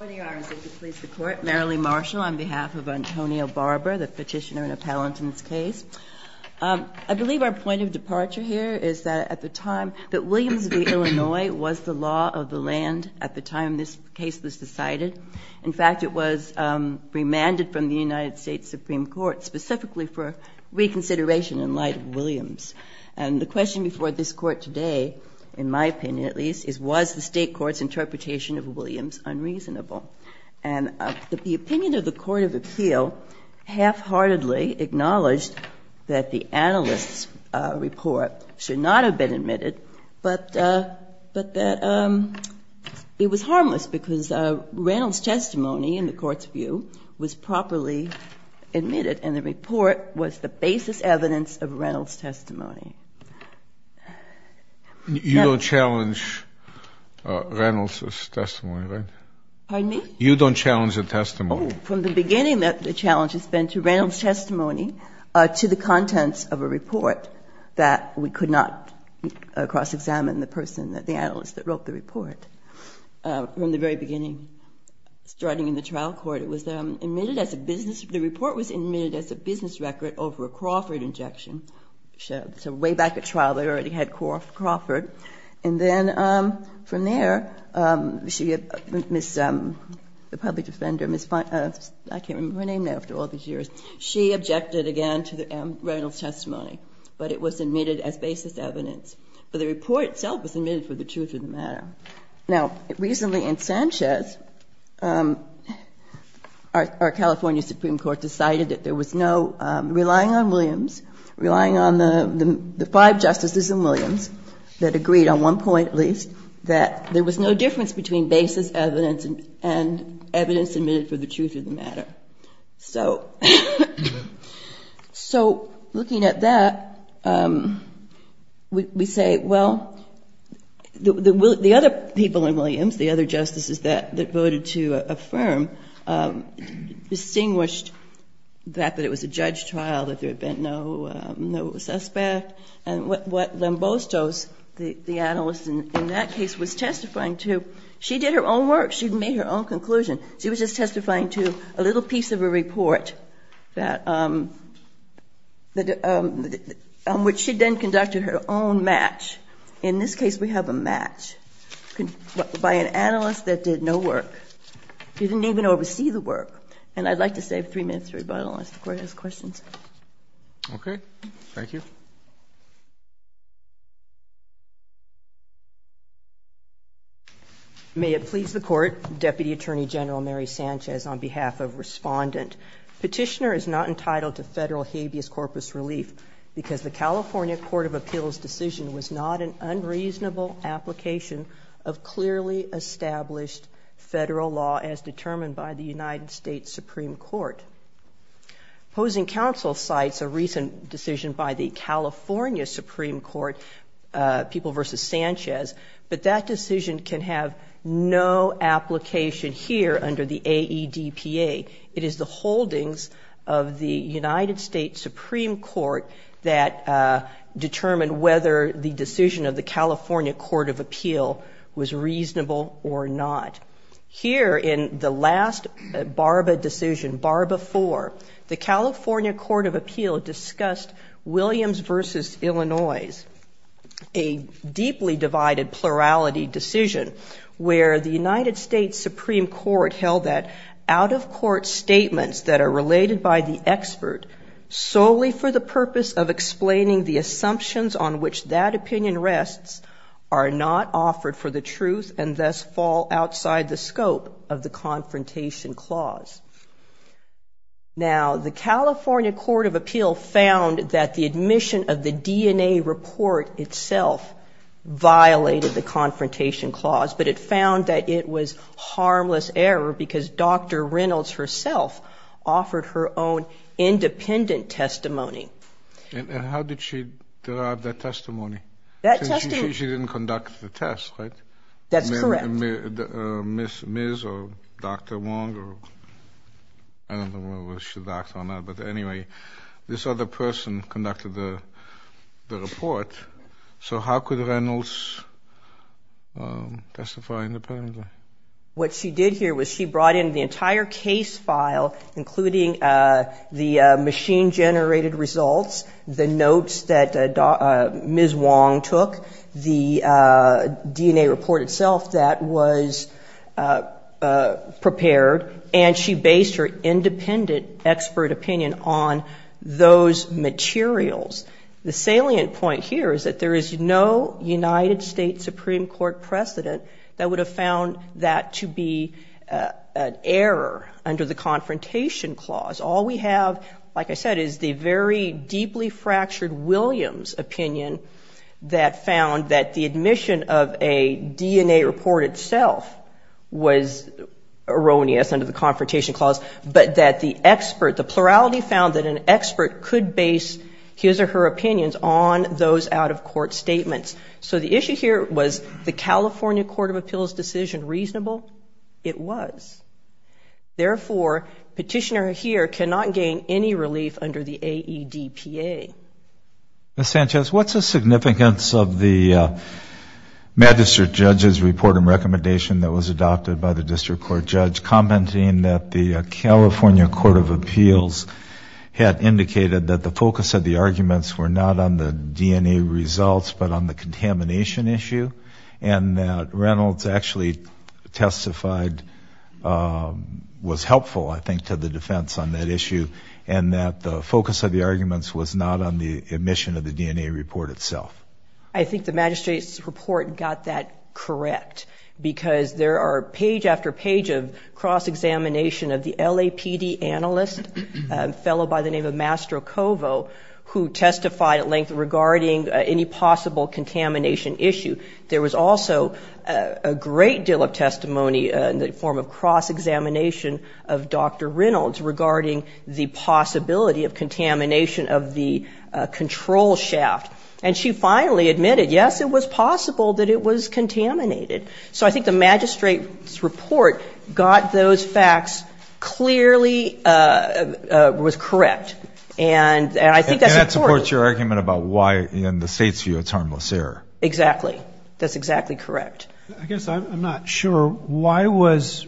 I believe our point of departure here is that at the time that Williams v. Illinois was the law of the land at the time this case was decided. In fact, it was remanded from the United States Supreme Court specifically for reconsideration in light of Williams. And the question before this Court today, in my opinion at least, is was the State Court's unreasonable. And the opinion of the Court of Appeal half-heartedly acknowledged that the analyst's report should not have been admitted, but that it was harmless because Reynolds' testimony in the Court's view was properly admitted and the report was admitted as a business record over a Crawford injection. So we can't challenge I'm sorry. You don't challenge Reynolds' testimony, right? Pardon me? You don't challenge the testimony? Oh, from the beginning the challenge has been to Reynolds' testimony to the contents of a report that we could not cross-examine the person that the analyst that wrote the report. From the very beginning, starting in the trial court it was admitted as a business record over a Crawford injection. So way back at trial they already had Crawford. And then from there, she, Ms. the public defender, Ms. I can't remember her name now after all these years, she objected again to Reynolds' testimony, but it was admitted as basis evidence. But the report itself was admitted for the truth of the matter. Now, recently in Sanchez, our California Supreme Court decided that there was no, relying on Williams, relying on the five justices in Williams that agreed on one point at least that there was no difference between basis evidence and evidence admitted for the truth of the matter. So looking at that, we say, well, the other side of the story is that the other people in Williams, the other justices that voted to affirm, distinguished that it was a judge trial, that there had been no suspect. And what Lombosto's, the analyst in that case, was testifying to, she did her own work. She made her own conclusion. She was just testifying to a little piece of a report that, on which she then conducted her own match. In this case, we have a match by an analyst that did no work. She didn't even oversee the work. And I'd like to save three minutes for rebuttal unless the Court has questions. Okay. Thank you. May it please the Court, Deputy Attorney General Mary Sanchez, on behalf of Respondent, Petitioner is not entitled to federal habeas corpus relief because the California Court of Appeals decision was not an unreasonable application of clearly established federal law as determined by the United States Supreme Court. Opposing Counsel cites a recent decision by the California Supreme Court, People v. Sanchez, but that decision can have no application here under the AEDPA. It is the holdings of the United States Supreme Court that determined whether the decision of the California Court of Appeal was reasonable or not. Here in the last Barba decision, Barba IV, the California Court of Appeals made a plurality decision where the United States Supreme Court held that out-of-court statements that are related by the expert solely for the purpose of explaining the assumptions on which that opinion rests are not offered for the truth and thus fall outside the scope of the confrontation clause. Now, the California Court of Appeal found that the confrontation clause, but it found that it was harmless error because Dr. Reynolds herself offered her own independent testimony. And how did she derive that testimony? That testimony... She didn't conduct the test, right? That's correct. Ms. or Dr. Wong, I don't know whether she should act or not, but anyway, this other person conducted the report. So how could Reynolds testify independently? What she did here was she brought in the entire case file, including the machine-generated results, the notes that Ms. Wong took, the DNA report itself that was prepared, and she based her independent expert opinion on those materials. The salient point here is that there is no United States Supreme Court precedent that would have found that to be an error under the confrontation clause. All we have, like I said, is the very deeply fractured Williams opinion that found that the admission of a plurality found that an expert could base his or her opinions on those out-of-court statements. So the issue here, was the California Court of Appeals decision reasonable? It was. Therefore, petitioner here cannot gain any relief under the AEDPA. Ms. Sanchez, what's the significance of the magistrate judge's report and recommendation that was adopted by the California Court of Appeals had indicated that the focus of the arguments were not on the DNA results, but on the contamination issue, and that Reynolds actually testified was helpful, I think, to the defense on that issue, and that the focus of the arguments was not on the admission of the DNA report itself? I think the magistrate's report got that correct, because there are page after page of cross-examination of the LAPD analyst, a fellow by the name of Mastrocovo, who testified at length regarding any possible contamination issue. There was also a great deal of testimony in the form of cross-examination of Dr. Reynolds regarding the possibility of contamination of the control shaft. And she finally admitted, yes, it was possible that it was contaminated. So I think the magistrate's report got those facts clearly was correct. And I think that's important. And that supports your argument about why, in the state's view, it's harmless error. Exactly. That's exactly correct. I guess I'm not sure, why was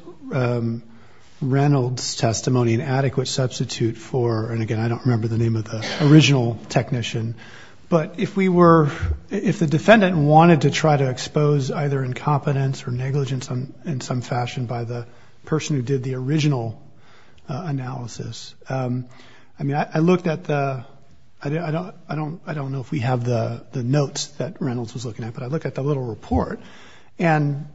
Reynolds' testimony an adequate substitute for, and again, I don't remember the name of the person who did the original analysis, but if we were, if the defendant wanted to try to expose either incompetence or negligence in some fashion by the person who did the original analysis, I mean, I looked at the, I don't know if we have the notes that Reynolds was looking at, but I looked at the little report, and,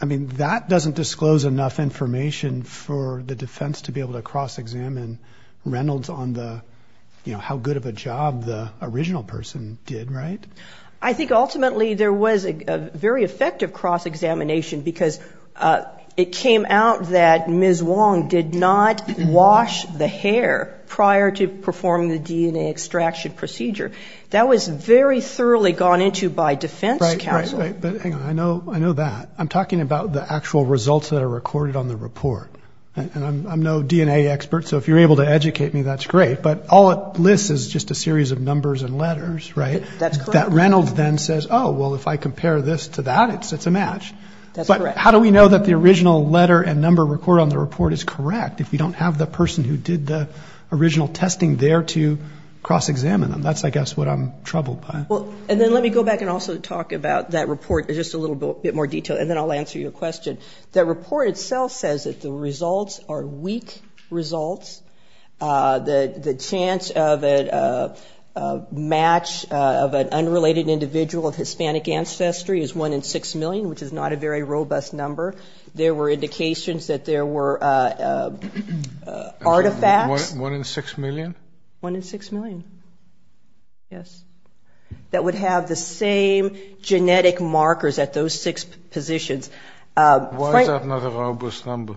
I mean, that doesn't disclose enough information for the defense to be able to cross-examine Reynolds on the, you know, how good of a job the original person did, right? I think ultimately there was a very effective cross-examination because it came out that Ms. Wong did not wash the hair prior to performing the DNA extraction procedure. That was very thoroughly gone into by defense counsel. Right, right, right. But hang on, I know that. I'm talking about the actual results that are recorded on the report. And I'm no DNA expert, so if you're able to educate me, that's great. But all it lists is just a series of numbers and letters, right? That Reynolds then says, oh, well, if I compare this to that, it's a match. But how do we know that the original letter and number recorded on the report is correct if we don't have the person who did the original testing there to cross-examine them? That's, I guess, what I'm troubled by. Well, and then let me go back and also talk about that report in just a little bit more detail, and then I'll answer your question. The report itself says that the results are weak results. The chance of a match of an unrelated individual of Hispanic ancestry is one in six million, which is not a very robust number. There were indications that there were artifacts. One in six million? One in six million, yes, that would have the same genetic markers at those six positions. Why is that not a robust number?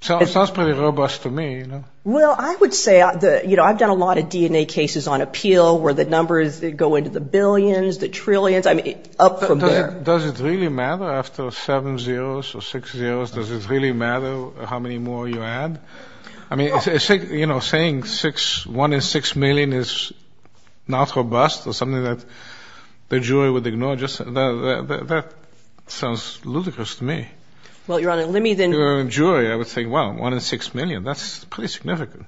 It sounds pretty robust to me. Well, I would say, you know, I've done a lot of DNA cases on appeal where the numbers go into the billions, the trillions, I mean, up from there. Does it really matter after seven zeros or six zeros, does it really matter how many more you add? I mean, you know, saying one in six million is not robust or something that the jury would ignore, that sounds ludicrous to me. Well, Your Honor, let me then... If you were a jury, I would say, well, one in six million, that's pretty significant.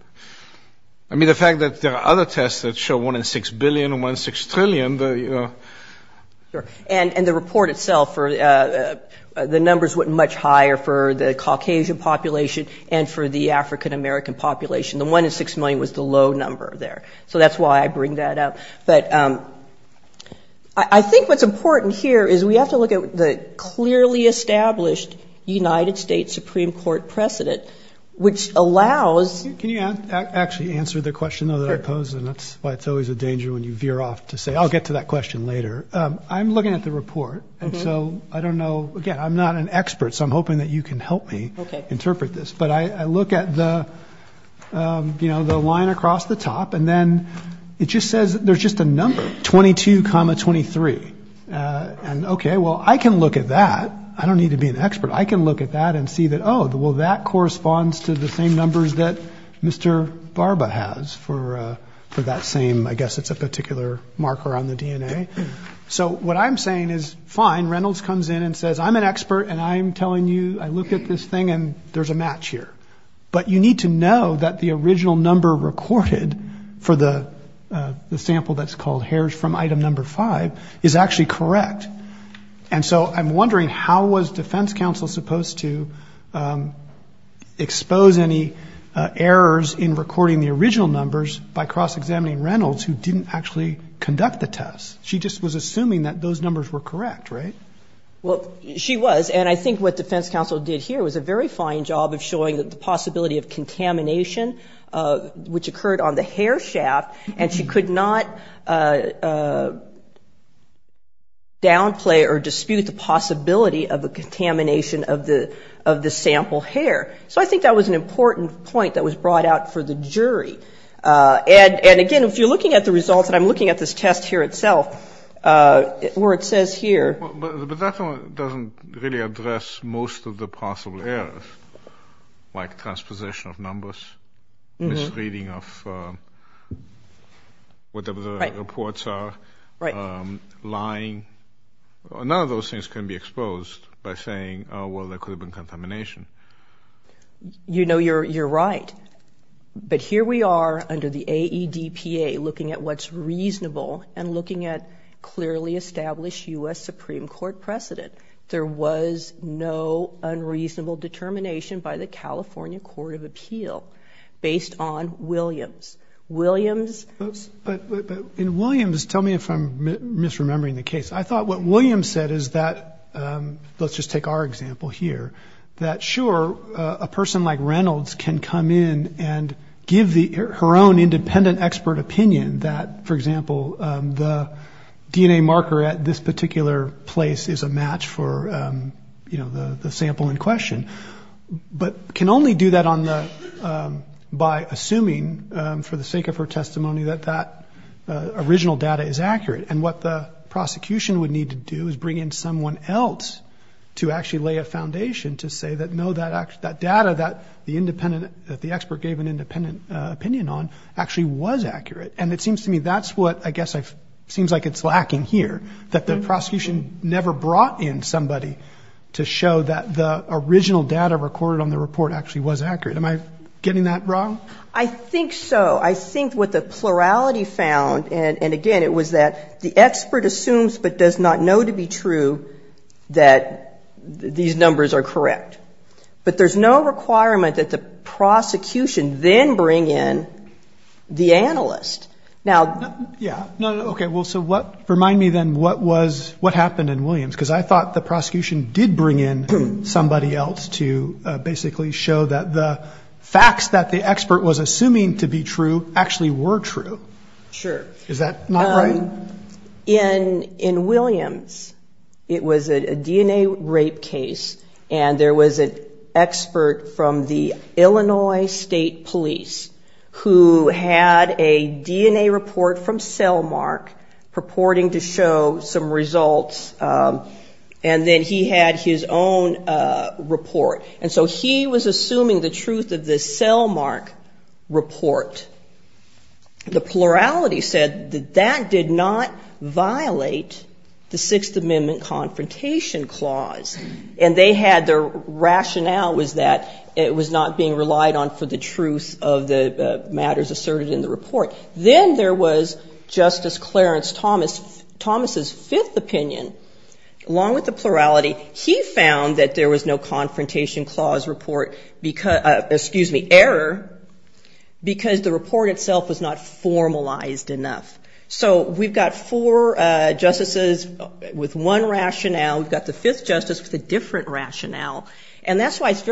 I mean, the fact that there are other tests that show one in six billion or one in six trillion, you know... And the report itself, the numbers went much higher for the Caucasian population and for the African-American population. The one in six million was the low number there. So that's why I bring that up. But I think what's important here is we have to look at the clearly established United States Supreme Court precedent, which allows... Can you actually answer the question, though, that I posed? And that's why it's always a danger when you veer off to say, I'll get to that question later. I'm looking at the report. And so I don't know. Again, I'm not an expert, so I'm hoping that you can help me interpret this. But I look at the, you know, the line across the top. And then it just says there's just a number, 22, 23. And OK, well, I can look at that. I don't need to be an expert. I can look at that and see that, oh, well, that corresponds to the same numbers that Mr. Barba has for that same... I guess it's a particular marker on the DNA. So what I'm saying is fine. Reynolds comes in and says, I'm an expert. And I'm telling you, I look at this thing and there's a match here. But you need to know that the original number recorded for the sample that's called hairs from item number five is actually correct. And so I'm wondering, how was defense counsel supposed to expose any errors in recording the original numbers by cross-examining Reynolds, who didn't actually conduct the test? She just was assuming that those numbers were correct, right? Well, she was. And I think what defense counsel did here was a very fine job of showing that the possibility of contamination, which occurred on the hair shaft, and she could not downplay or dispute the possibility of the contamination of the sample hair. So I think that was an important point that was brought out for the jury. And again, if you're looking at the results, and I'm looking at this test here itself, where it says here... But that one doesn't really address most of the possible errors, like transposition of numbers, misreading of whatever the reports are, lying. None of those things can be exposed by saying, oh, well, there could have been contamination. You know, you're right. But here we are under the AEDPA looking at what's reasonable and looking at clearly established U.S. Supreme Court precedent. There was no unreasonable determination by the California Court of Appeal based on Williams. But in Williams, tell me if I'm misremembering the case. I thought what Williams said is that, let's just take our example here, that sure, a person like Reynolds can come in and give her own independent expert opinion that, for example, the DNA marker at this particular location, but can only do that by assuming, for the sake of her testimony, that that original data is accurate. And what the prosecution would need to do is bring in someone else to actually lay a foundation to say that, no, that data that the expert gave an independent opinion on actually was accurate. And it seems to me that's what, I guess, seems like it's lacking here, that the prosecution never brought in somebody to show that the original data recorded on the report actually was accurate. Am I getting that wrong? I think so. I think what the plurality found, and again, it was that the expert assumes but does not know to be true that these numbers are correct. But there's no requirement that the prosecution then bring in the analyst. Yeah. Okay. So remind me then, what happened in Williams? Because I thought the prosecution did bring in somebody else to basically show that the facts that the expert was assuming to be true actually were true. Sure. Is that not right? In Williams, it was a DNA rape case, and there was an expert from the Illinois State Police who had a DNA report from Cellmark purporting to show some results, and then he had his own report. And so he was assuming the truth of the Cellmark report. The plurality said that that did not violate the Sixth Amendment Confrontation Clause, and their rationale was that it was not being relied on for the truth of the report. It was being relied on for the truth of the matters asserted in the report. Then there was Justice Clarence Thomas. Thomas's fifth opinion, along with the plurality, he found that there was no Confrontation Clause report, excuse me, error, because the report itself was not formalized enough. So we've got four justices with one rationale. We've got the fifth justice with a different rationale. And then we've got William's,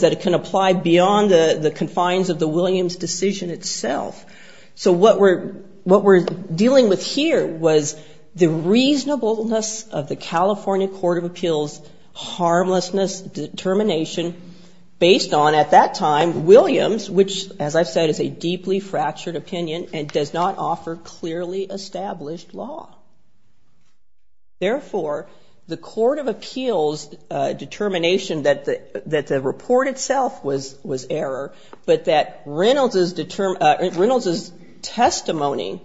that it can apply beyond the confines of the Williams decision itself. So what we're dealing with here was the reasonableness of the California Court of Appeals harmlessness determination based on, at that time, Williams, which, as I've said, is a deeply fractured opinion and does not offer clearly established law. Therefore, the Court of Appeals determination that the report itself was error, but that Reynolds's testimony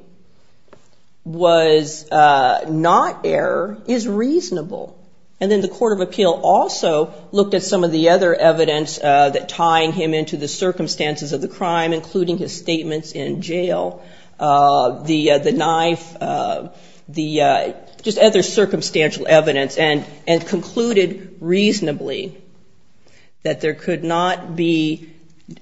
was not error is reasonable. And then the Court of Appeal also looked at some of the other evidence that tying him into the circumstances of the crime, including his statements in jail. The knife, the just other circumstantial evidence, and concluded reasonably that there could not be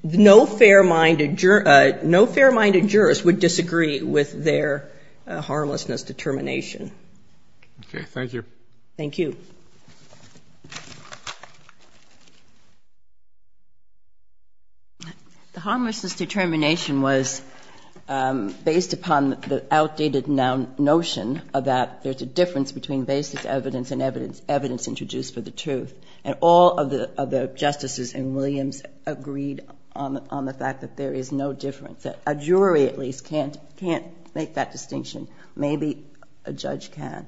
no fair-minded jurors would disagree with their harmlessness determination. Okay. Thank you. The harmlessness determination was based upon the outdated notion that there's a difference between basic evidence and evidence introduced for the truth. And all of the justices in Williams agreed on the fact that there is no difference, that a jury at least can't make that distinction. Maybe a judge can.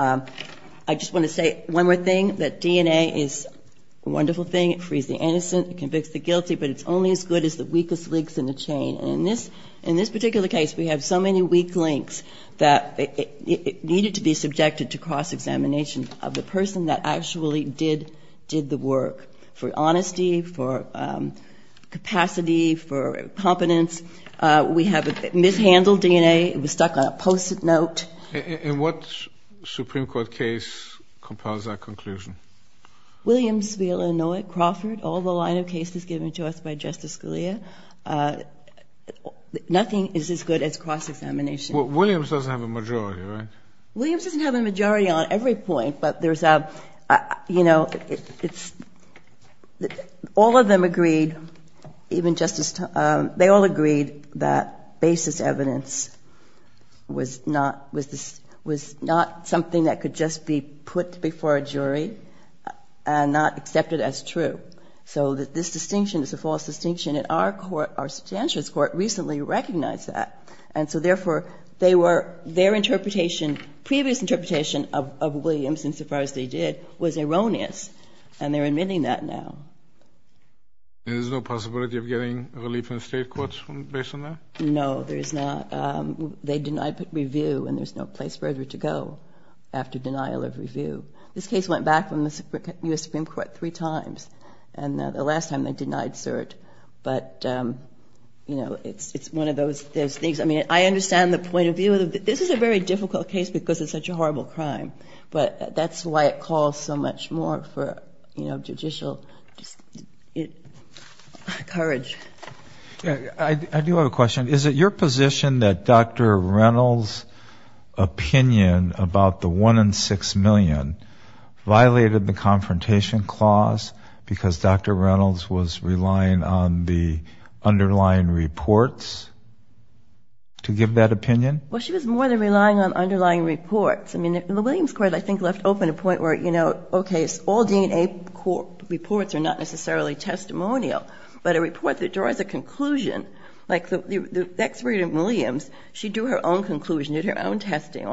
I just want to say one more thing, that DNA is a wonderful thing. It frees the innocent. It convicts the guilty. But it's only as good as the weakest links in the chain. And in this particular case, we have so many weak links that it needed to be subjected to cross-examination of the person that actually did the work for honesty, which compiles our conclusion. Williams v. Illinois, Crawford, all the line of cases given to us by Justice Scalia, nothing is as good as cross-examination. Williams doesn't have a majority, right? Williams doesn't have a majority on every point, but there's a, you know, it's all of them agreed, even Justice, they all agreed that basis evidence was not, was not something that could just be put before a jury and not accepted as true. So this distinction is a false distinction, and our court, our substantialist court recently recognized that. And so therefore, they were, their interpretation, previous interpretation of Williamson, so far as they did, was erroneous. And they're admitting that now. And there's no possibility of getting relief in the state courts based on that? No, there is not. They denied review, and there's no place further to go after denial of review. This case went back from the U.S. Supreme Court three times, and the last time they denied cert. But, you know, it's one of those things. I mean, I understand the point of view. This is a very difficult case because it's such a horrible crime. But that's why it calls so much more for, you know, judicial courage. I do have a question. Is it your position that Dr. Reynolds' opinion about the 1 in 6 million violated the Confrontation Clause because Dr. Reynolds was relying on the underlying reports to give that opinion? Well, she was more than relying on underlying reports. I mean, the Williams Court, I think, left open a point where, you know, okay, all DNA reports are not necessarily testimonial. But a report that draws a conclusion, like the expert in Williams, she drew her own conclusion, did her own sample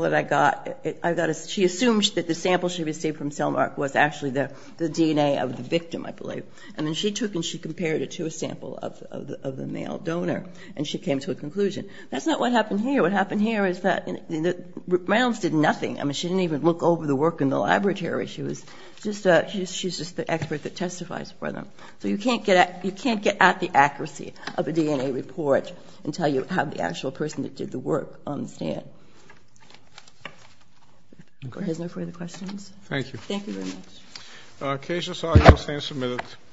that I got. She assumed that the sample she received from Selmark was actually the DNA of the victim, I believe. And then she took and she compared it to a sample of the male donor, and she came to a conclusion. That's not what happened here. What happened here is that Reynolds did nothing. I mean, she didn't even look over the work in the laboratory. She was just the expert that testifies for them. So you can't get at the accuracy of a DNA report until you have the actual person that did the work on the stand. Any further questions? Thank you. Thank you very much.